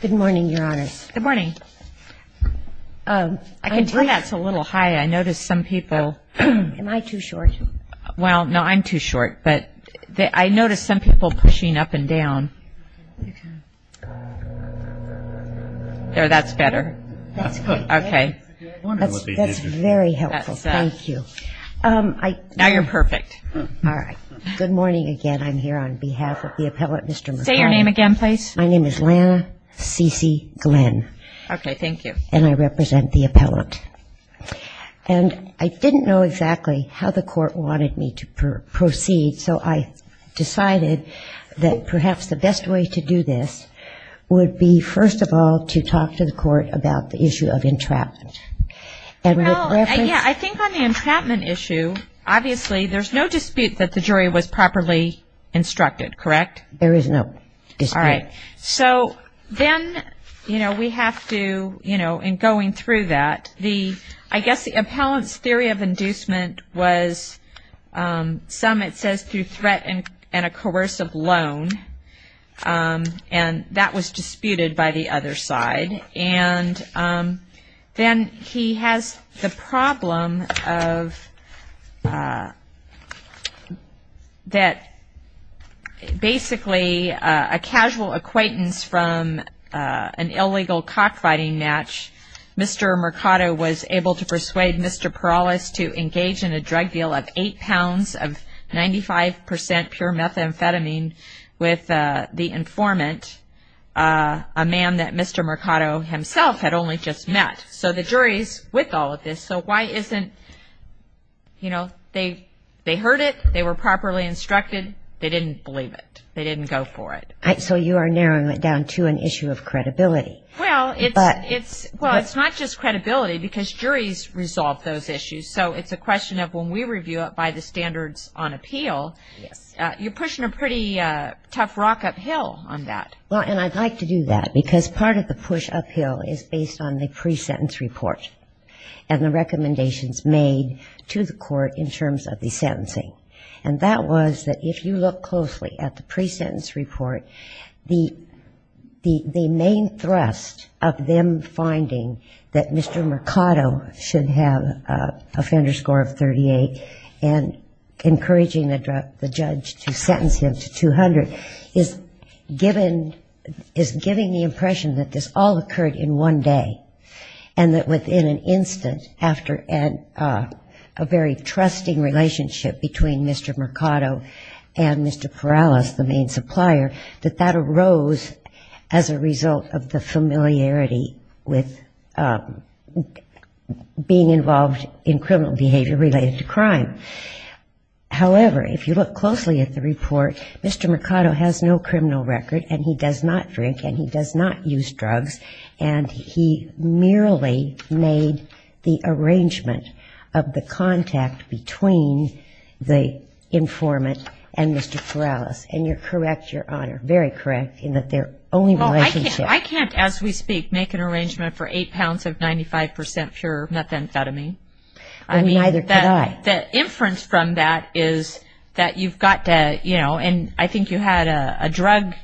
Good morning, your honors. Good morning. I can tell that's a little high. I notice some people... Am I too short? Well, no, I'm too short, but I notice some people pushing up and down. There, that's better. That's good. Okay. That's very helpful. That's that. Thank you. Now you're perfect. All right. Good morning again. I'm here on behalf of the appellate, Mr. Mercado. Say your name again, please. My name is Lana Cece Glenn. Okay, thank you. And I represent the appellate. And I didn't know exactly how the court wanted me to proceed, so I decided that perhaps the best way to do this would be, first of all, to talk to the court about the issue of entrapment. Well, yeah, I think on the entrapment issue, obviously there's no dispute that the jury was properly instructed, correct? There is no dispute. All right. So then, you know, we have to, you know, in going through that, I guess the appellant's theory of inducement was some, it says, through threat and a coercive loan, and that was disputed by the other side. And then he has the problem of that basically a casual acquaintance from an illegal cockfighting match. Mr. Mercado was able to persuade Mr. Perales to engage in a drug deal of eight pounds of 95% pure methamphetamine with the informant, a man that Mr. Mercado himself had only just met. So the jury's with all of this, so why isn't, you know, they heard it. They were properly instructed. They didn't believe it. They didn't go for it. So you are narrowing it down to an issue of credibility. Well, it's not just credibility because juries resolve those issues, so it's a question of when we review it by the standards on appeal, you're pushing a pretty tough rock uphill on that. Well, and I'd like to do that because part of the push uphill is based on the pre-sentence report and the recommendations made to the court in terms of the sentencing. And that was that if you look closely at the pre-sentence report, the main thrust of them finding that Mr. Mercado should have an offender score of 38 and encouraging the judge to sentence him to 200 is giving the impression that this all occurred in one day and that within an instant after a very trusting relationship between Mr. Mercado and Mr. Perales, the main supplier, that that arose as a result of the familiarity with being involved in criminal behavior related to crime. However, if you look closely at the report, Mr. Mercado has no criminal record and he does not drink and he does not use drugs, and he merely made the arrangement of the contact between the informant and Mr. Perales. And you're correct, Your Honor, very correct, in that they're only relationships. I can't, as we speak, make an arrangement for eight pounds of 95% pure methamphetamine. And neither could I. The inference from that is that you've got to, you know, and I think you had a drug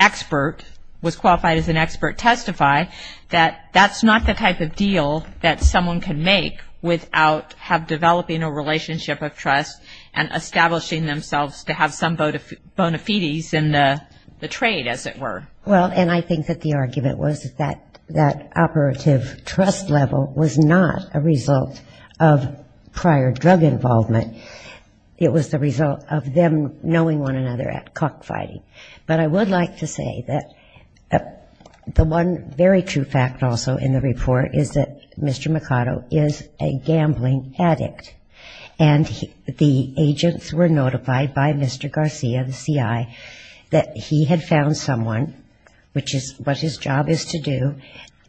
expert was qualified as an expert testify that that's not the type of deal that someone can make without developing a relationship of trust and establishing themselves to have some bona fides in the trade, as it were. Well, and I think that the argument was that that operative trust level was not a result of prior drug involvement. It was the result of them knowing one another at cockfighting. But I would like to say that the one very true fact also in the report is that Mr. Mercado is a gambling addict. And the agents were notified by Mr. Garcia, the CI, that he had found someone, which is what his job is to do,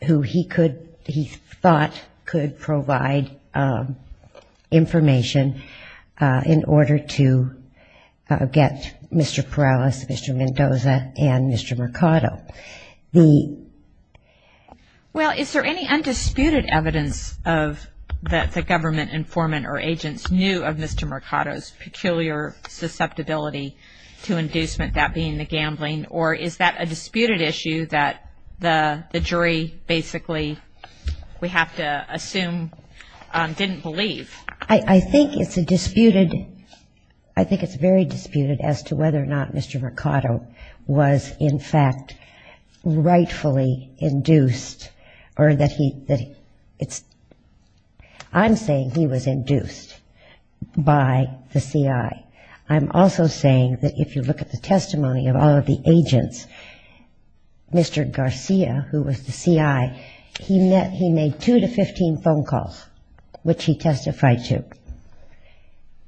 who he could, he thought could provide information in order to get Mr. Perales, Mr. Mendoza, and Mr. Mercado. Well, is there any undisputed evidence that the government informant or agents knew of Mr. Mercado's peculiar susceptibility to inducement, that being the gambling, or is that a disputed issue that the jury basically, we have to assume, didn't believe? I think it's a disputed, I think it's very disputed as to whether or not Mr. Mercado was in fact rightfully induced or that he, it's, I'm saying he was induced by the CI. I'm also saying that if you look at the testimony of all of the agents, Mr. Garcia, who was the CI, he made two to 15 phone calls, which he testified to.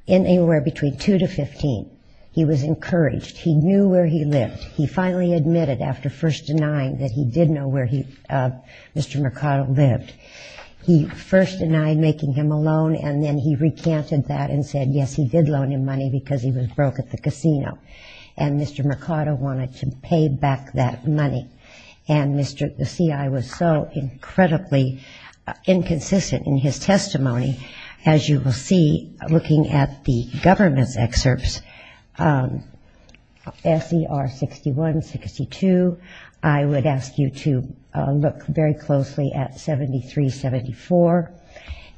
Anywhere between two to 15, he was encouraged, he knew where he lived. He finally admitted after first denying that he did know where he, Mr. Mercado lived. He first denied making him a loan, and then he recanted that and said, yes, he did loan him money because he was broke at the casino, and Mr. Mercado wanted to pay back that money. And Mr. the CI was so incredibly inconsistent in his testimony, as you will see here, looking at the government's excerpts, SCR 61, 62, I would ask you to look very closely at 73, 74,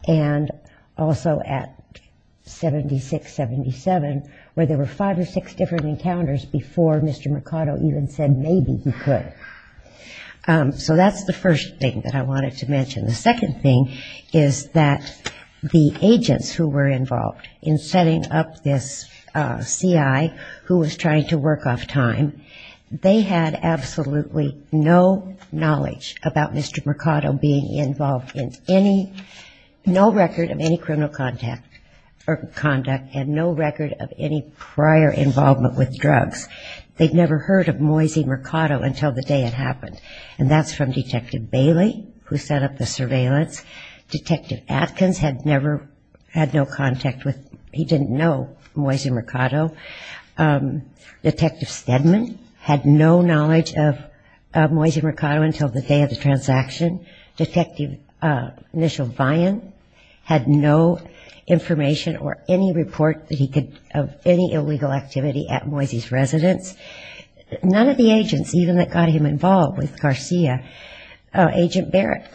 and also at 76, 77, where there were five or six different encounters before Mr. Mercado even said maybe he could. So that's the first thing that I wanted to mention. The second thing that I wanted to mention is that the CIA was never involved in setting up this CI who was trying to work off time. They had absolutely no knowledge about Mr. Mercado being involved in any, no record of any criminal conduct, and no record of any prior involvement with drugs. They'd never heard of Moise Mercado until the day it happened, and that's from Detective Bailey, who set up the surveillance. Detective Atkins had never, had no contact with, he didn't know Moise Mercado. Detective Stedman had no knowledge of Moise Mercado until the day of the transaction. Detective Mitchell Vian had no information or any report that he could, of any illegal activity at Moise's residence. None of the agents even that got him involved with Garcia, Agent Barrett,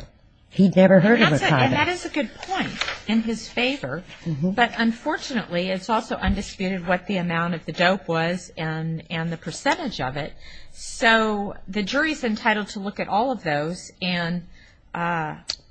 he'd never heard of him. And that is a good point in his favor, but unfortunately it's also undisputed what the amount of the dope was and the percentage of it. So the jury's entitled to look at all of those and,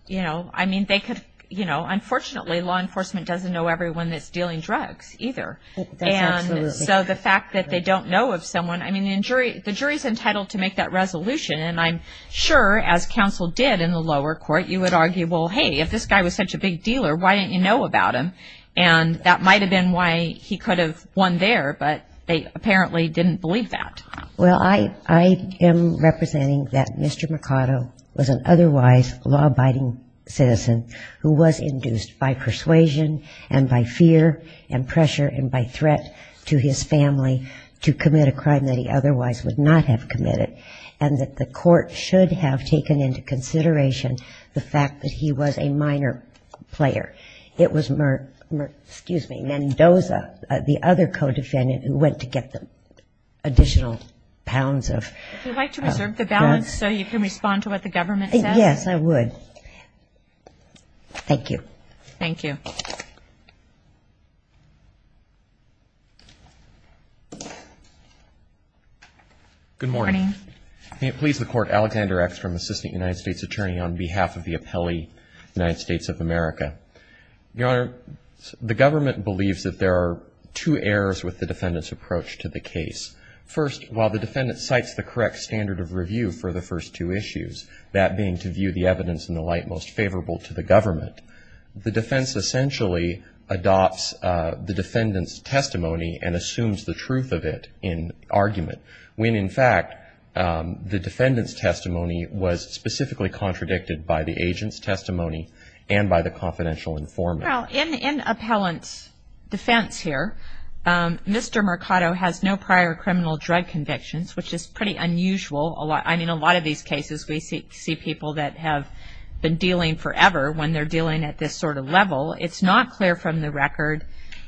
you know, I mean, they could, you know, unfortunately law enforcement doesn't know everyone that's dealing drugs either. And so the fact that they don't know of someone, I mean, the jury's entitled to make that resolution. And I'm sure, as counsel did in the lower court, you would argue, well, hey, if this guy was such a big dealer, why didn't you know about him? And that might have been why he could have won there, but they apparently didn't believe that. Well, I am representing that Mr. Mercado was an otherwise law-abiding citizen who was induced by persuasion and by fear and pressure and by threat to his family to commit a crime that he otherwise would not have committed, and that the court should have taken into consideration the fact that he was a minor player. It was Mendoza, the other co-defendant, who went to get the additional pounds of... If you'd like to reserve the balance so you can respond to what the government says. Yes, I would. Thank you. Thank you. Good morning. Your Honor, the government believes that there are two errors with the defendant's approach to the case. First, while the defendant cites the correct standard of review for the first two issues, that being to view the evidence in the light most of the time, the defense essentially adopts the defendant's testimony and assumes the truth of it in argument, when in fact the defendant's testimony was specifically contradicted by the agent's testimony and by the confidential informant. Well, in appellant's defense here, Mr. Mercado has no prior criminal drug convictions, which is pretty unusual. I mean, a lot of these cases we see people that have been dealing forever when they're dealing at this sort of level it's not clear from the record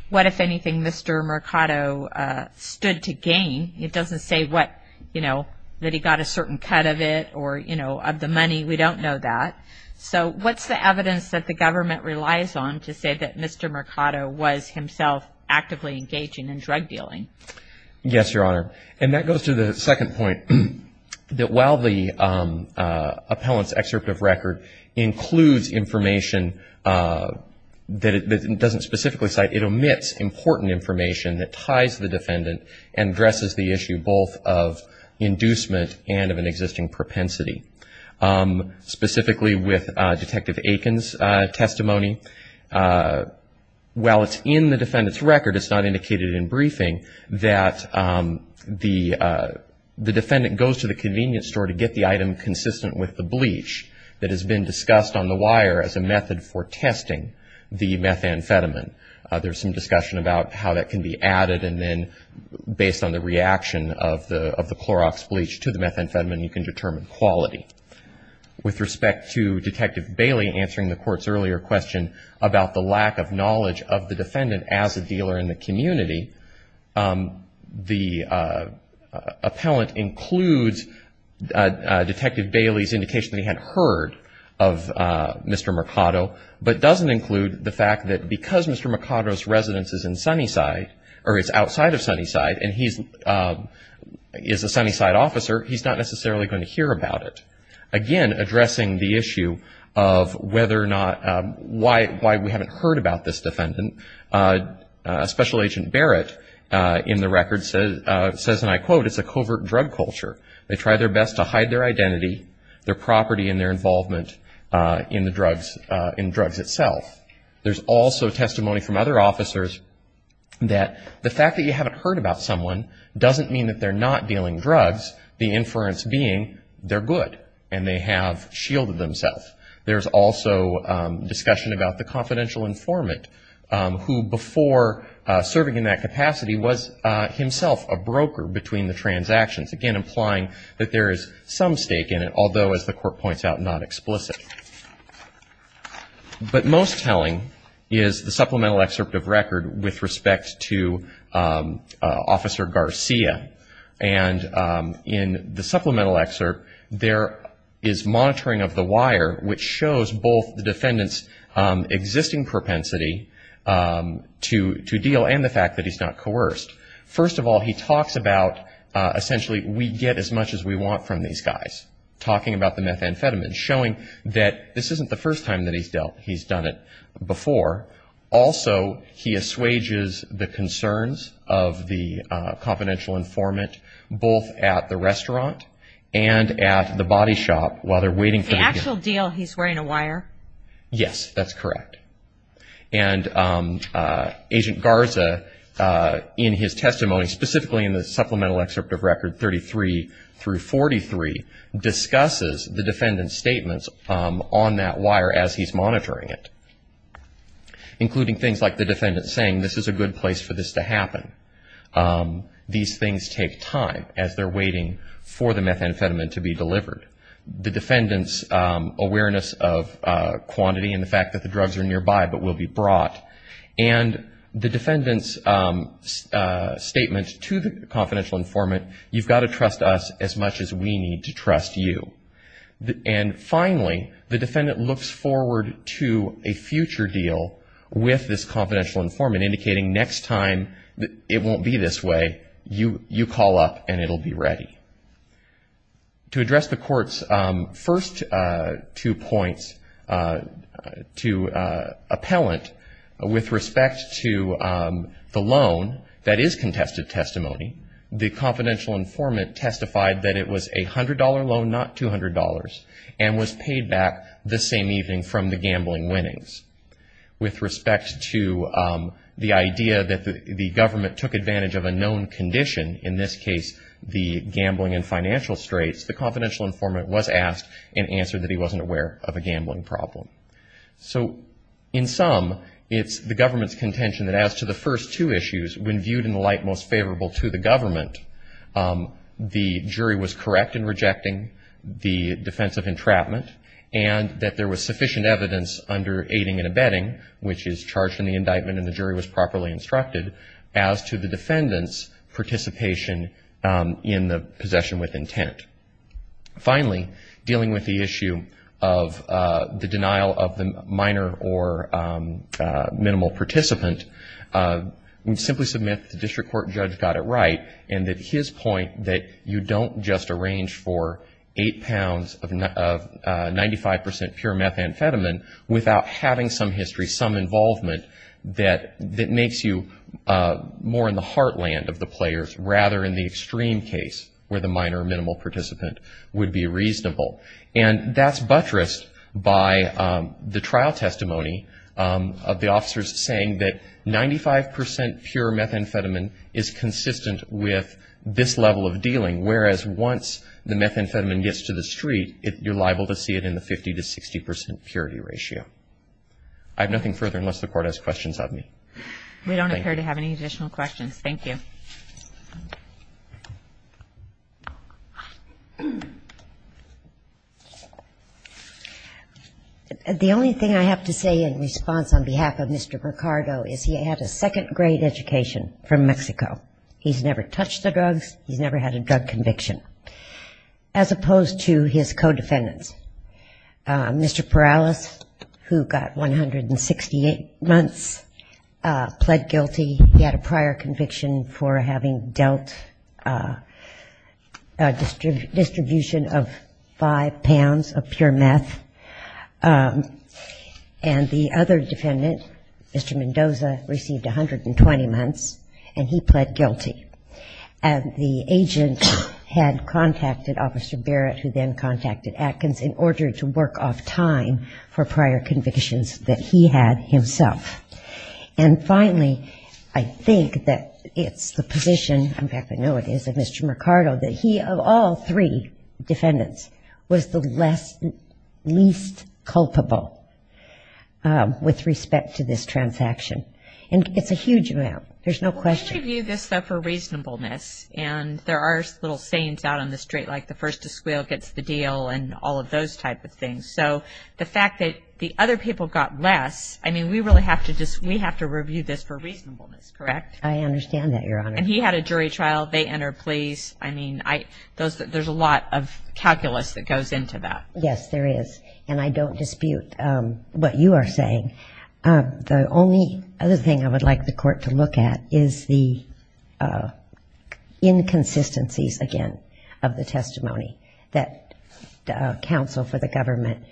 what, if anything, Mr. Mercado stood to gain. It doesn't say what, you know, that he got a certain cut of it or, you know, of the money. We don't know that. So what's the evidence that the government relies on to say that Mr. Mercado was himself actively engaging in drug dealing? Yes, Your Honor, and that goes to the second point, that while the appellant's excerpt of record includes information that it doesn't specifically cite, it omits important information that ties the defendant and dresses the issue both of inducement and of an existing propensity. Specifically with Detective Aiken's testimony, while it's in the defendant's record, it's not indicated in briefing that the defendant goes to the convenience store to get the item consistent with the bleach that has been discussed on the wire as a dealer in the community. It's not indicated in the court's record that the defendant is using the methamphetamine. There's some discussion about how that can be added and then based on the reaction of the Clorox bleach to the methamphetamine you can determine quality. With respect to Detective Bailey answering the court's earlier question about the lack of knowledge of the defendant as a dealer, I would include the fact that because Mr. Mercado's residence is in Sunnyside or is outside of Sunnyside and he's a Sunnyside officer, he's not necessarily going to hear about it. Again, addressing the issue of whether or not, why we haven't heard about this defendant, Special Agent Barrett in the record says, and I quote, it's a covert drug culture. They try their best to hide their identity, their property and their involvement in drugs itself. There's also testimony from other officers that the fact that you haven't heard about someone doesn't mean that they're not dealing drugs, the inference being they're good and they have shielded themselves. There's also discussion about the confidential informant who before serving in that capacity was himself a broker between the Again, identifying that there is some stake in it, although as the court points out, not explicit. But most telling is the supplemental excerpt of record with respect to Officer Garcia. And in the supplemental excerpt, there is monitoring of the wire which shows both the defendant's existing propensity to deal and to withhold as much as we want from these guys. Talking about the methamphetamine, showing that this isn't the first time that he's done it before. Also, he assuages the concerns of the confidential informant, both at the restaurant and at the body shop while they're waiting for the deal. The actual deal he's wearing a wire? Yes, that's correct. And Agent Garza in his testimony, specifically in the supplemental excerpt of record 33 through 43, discusses the defendant's statements on that wire as he's monitoring it. Including things like the defendant saying this is a good place for this to happen. These things take time as they're waiting for the methamphetamine to be delivered. The defendant's awareness of quantity and the fact that the drugs are nearby but will be brought. And the defendant's statement to the confidential informant, you've got to trust us as much as we need to trust you. And finally, the defendant looks forward to a future deal with this confidential informant indicating next time it won't be this way, you call up and it will be ready. To address the court's first two points to appellant, with respect to the loan that is contested testimony, the confidential informant testified that it was a $100 loan, not $200 and was paid back the same evening from the gambling winnings. With respect to the idea that the government took advantage of a known condition, in this case the gambling and financial straits, the confidential informant was asked and answered that he wasn't aware of a gambling problem. So in sum, it's the government's contention that as to the first two issues, when viewed in the light most favorable to the government, the jury was correct in rejecting the defense of entrapment and that there was sufficient evidence under aiding and abetting, which is charged in the indictment and the jury was properly instructed, as to the defendant's participation in the possession with intent. Finally, dealing with the issue of the denial of the minor or minimal participant, we simply submit that the district court judge got it right and that his point that you don't just arrange for eight pounds of 95 percent pure methamphetamine without having some history, some involvement, that makes you more in the heartland of the player than you would in the extreme case where the minor or minimal participant would be reasonable. And that's buttressed by the trial testimony of the officers saying that 95 percent pure methamphetamine is consistent with this level of dealing, whereas once the methamphetamine gets to the street, you're liable to see it in the 50 to 60 percent purity ratio. I have nothing further unless the court has questions of me. Thank you. The only thing I have to say in response on behalf of Mr. Ricardo is he had a second grade education from Mexico. He's never touched the drugs, he's never had a drug conviction, as opposed to his codefendants. Mr. Perales, who got 168 months, pled guilty. He had a prior conviction for having dealt a distribution of five pounds of pure meth. And the other defendant, Mr. Mendoza, received 120 months, and he pled guilty. And the agent had contacted Officer Barrett, who then contacted Atkins, in order to make sure that Mr. Mendoza was free to work off time for prior convictions that he had himself. And finally, I think that it's the position, in fact I know it is of Mr. Ricardo, that he of all three defendants was the least culpable with respect to this transaction. And it's a huge amount, there's no question. We review this, though, for reasonableness, and there are little sayings out on the street, like the first to squeal gets the deal and all of those type of things. So the fact that the other people got less, I mean, we really have to review this for reasonableness, correct? I understand that, Your Honor. And he had a jury trial, they entered pleas, I mean, there's a lot of calculus that goes into that. Yes, there is, and I don't dispute what you are saying. The only other thing I would like the Court to look at is the inconsistencies, again, of the testimony that counsel for the government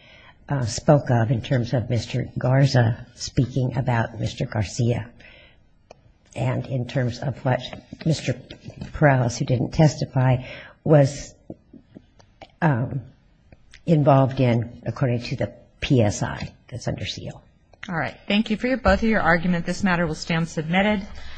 spoke of in terms of Mr. Garza speaking about Mr. Garcia, and in terms of what Mr. Perales, who didn't testify, was involved in according to the PSI that's under seal. All right, thank you for both of your arguments, this matter will stand submitted.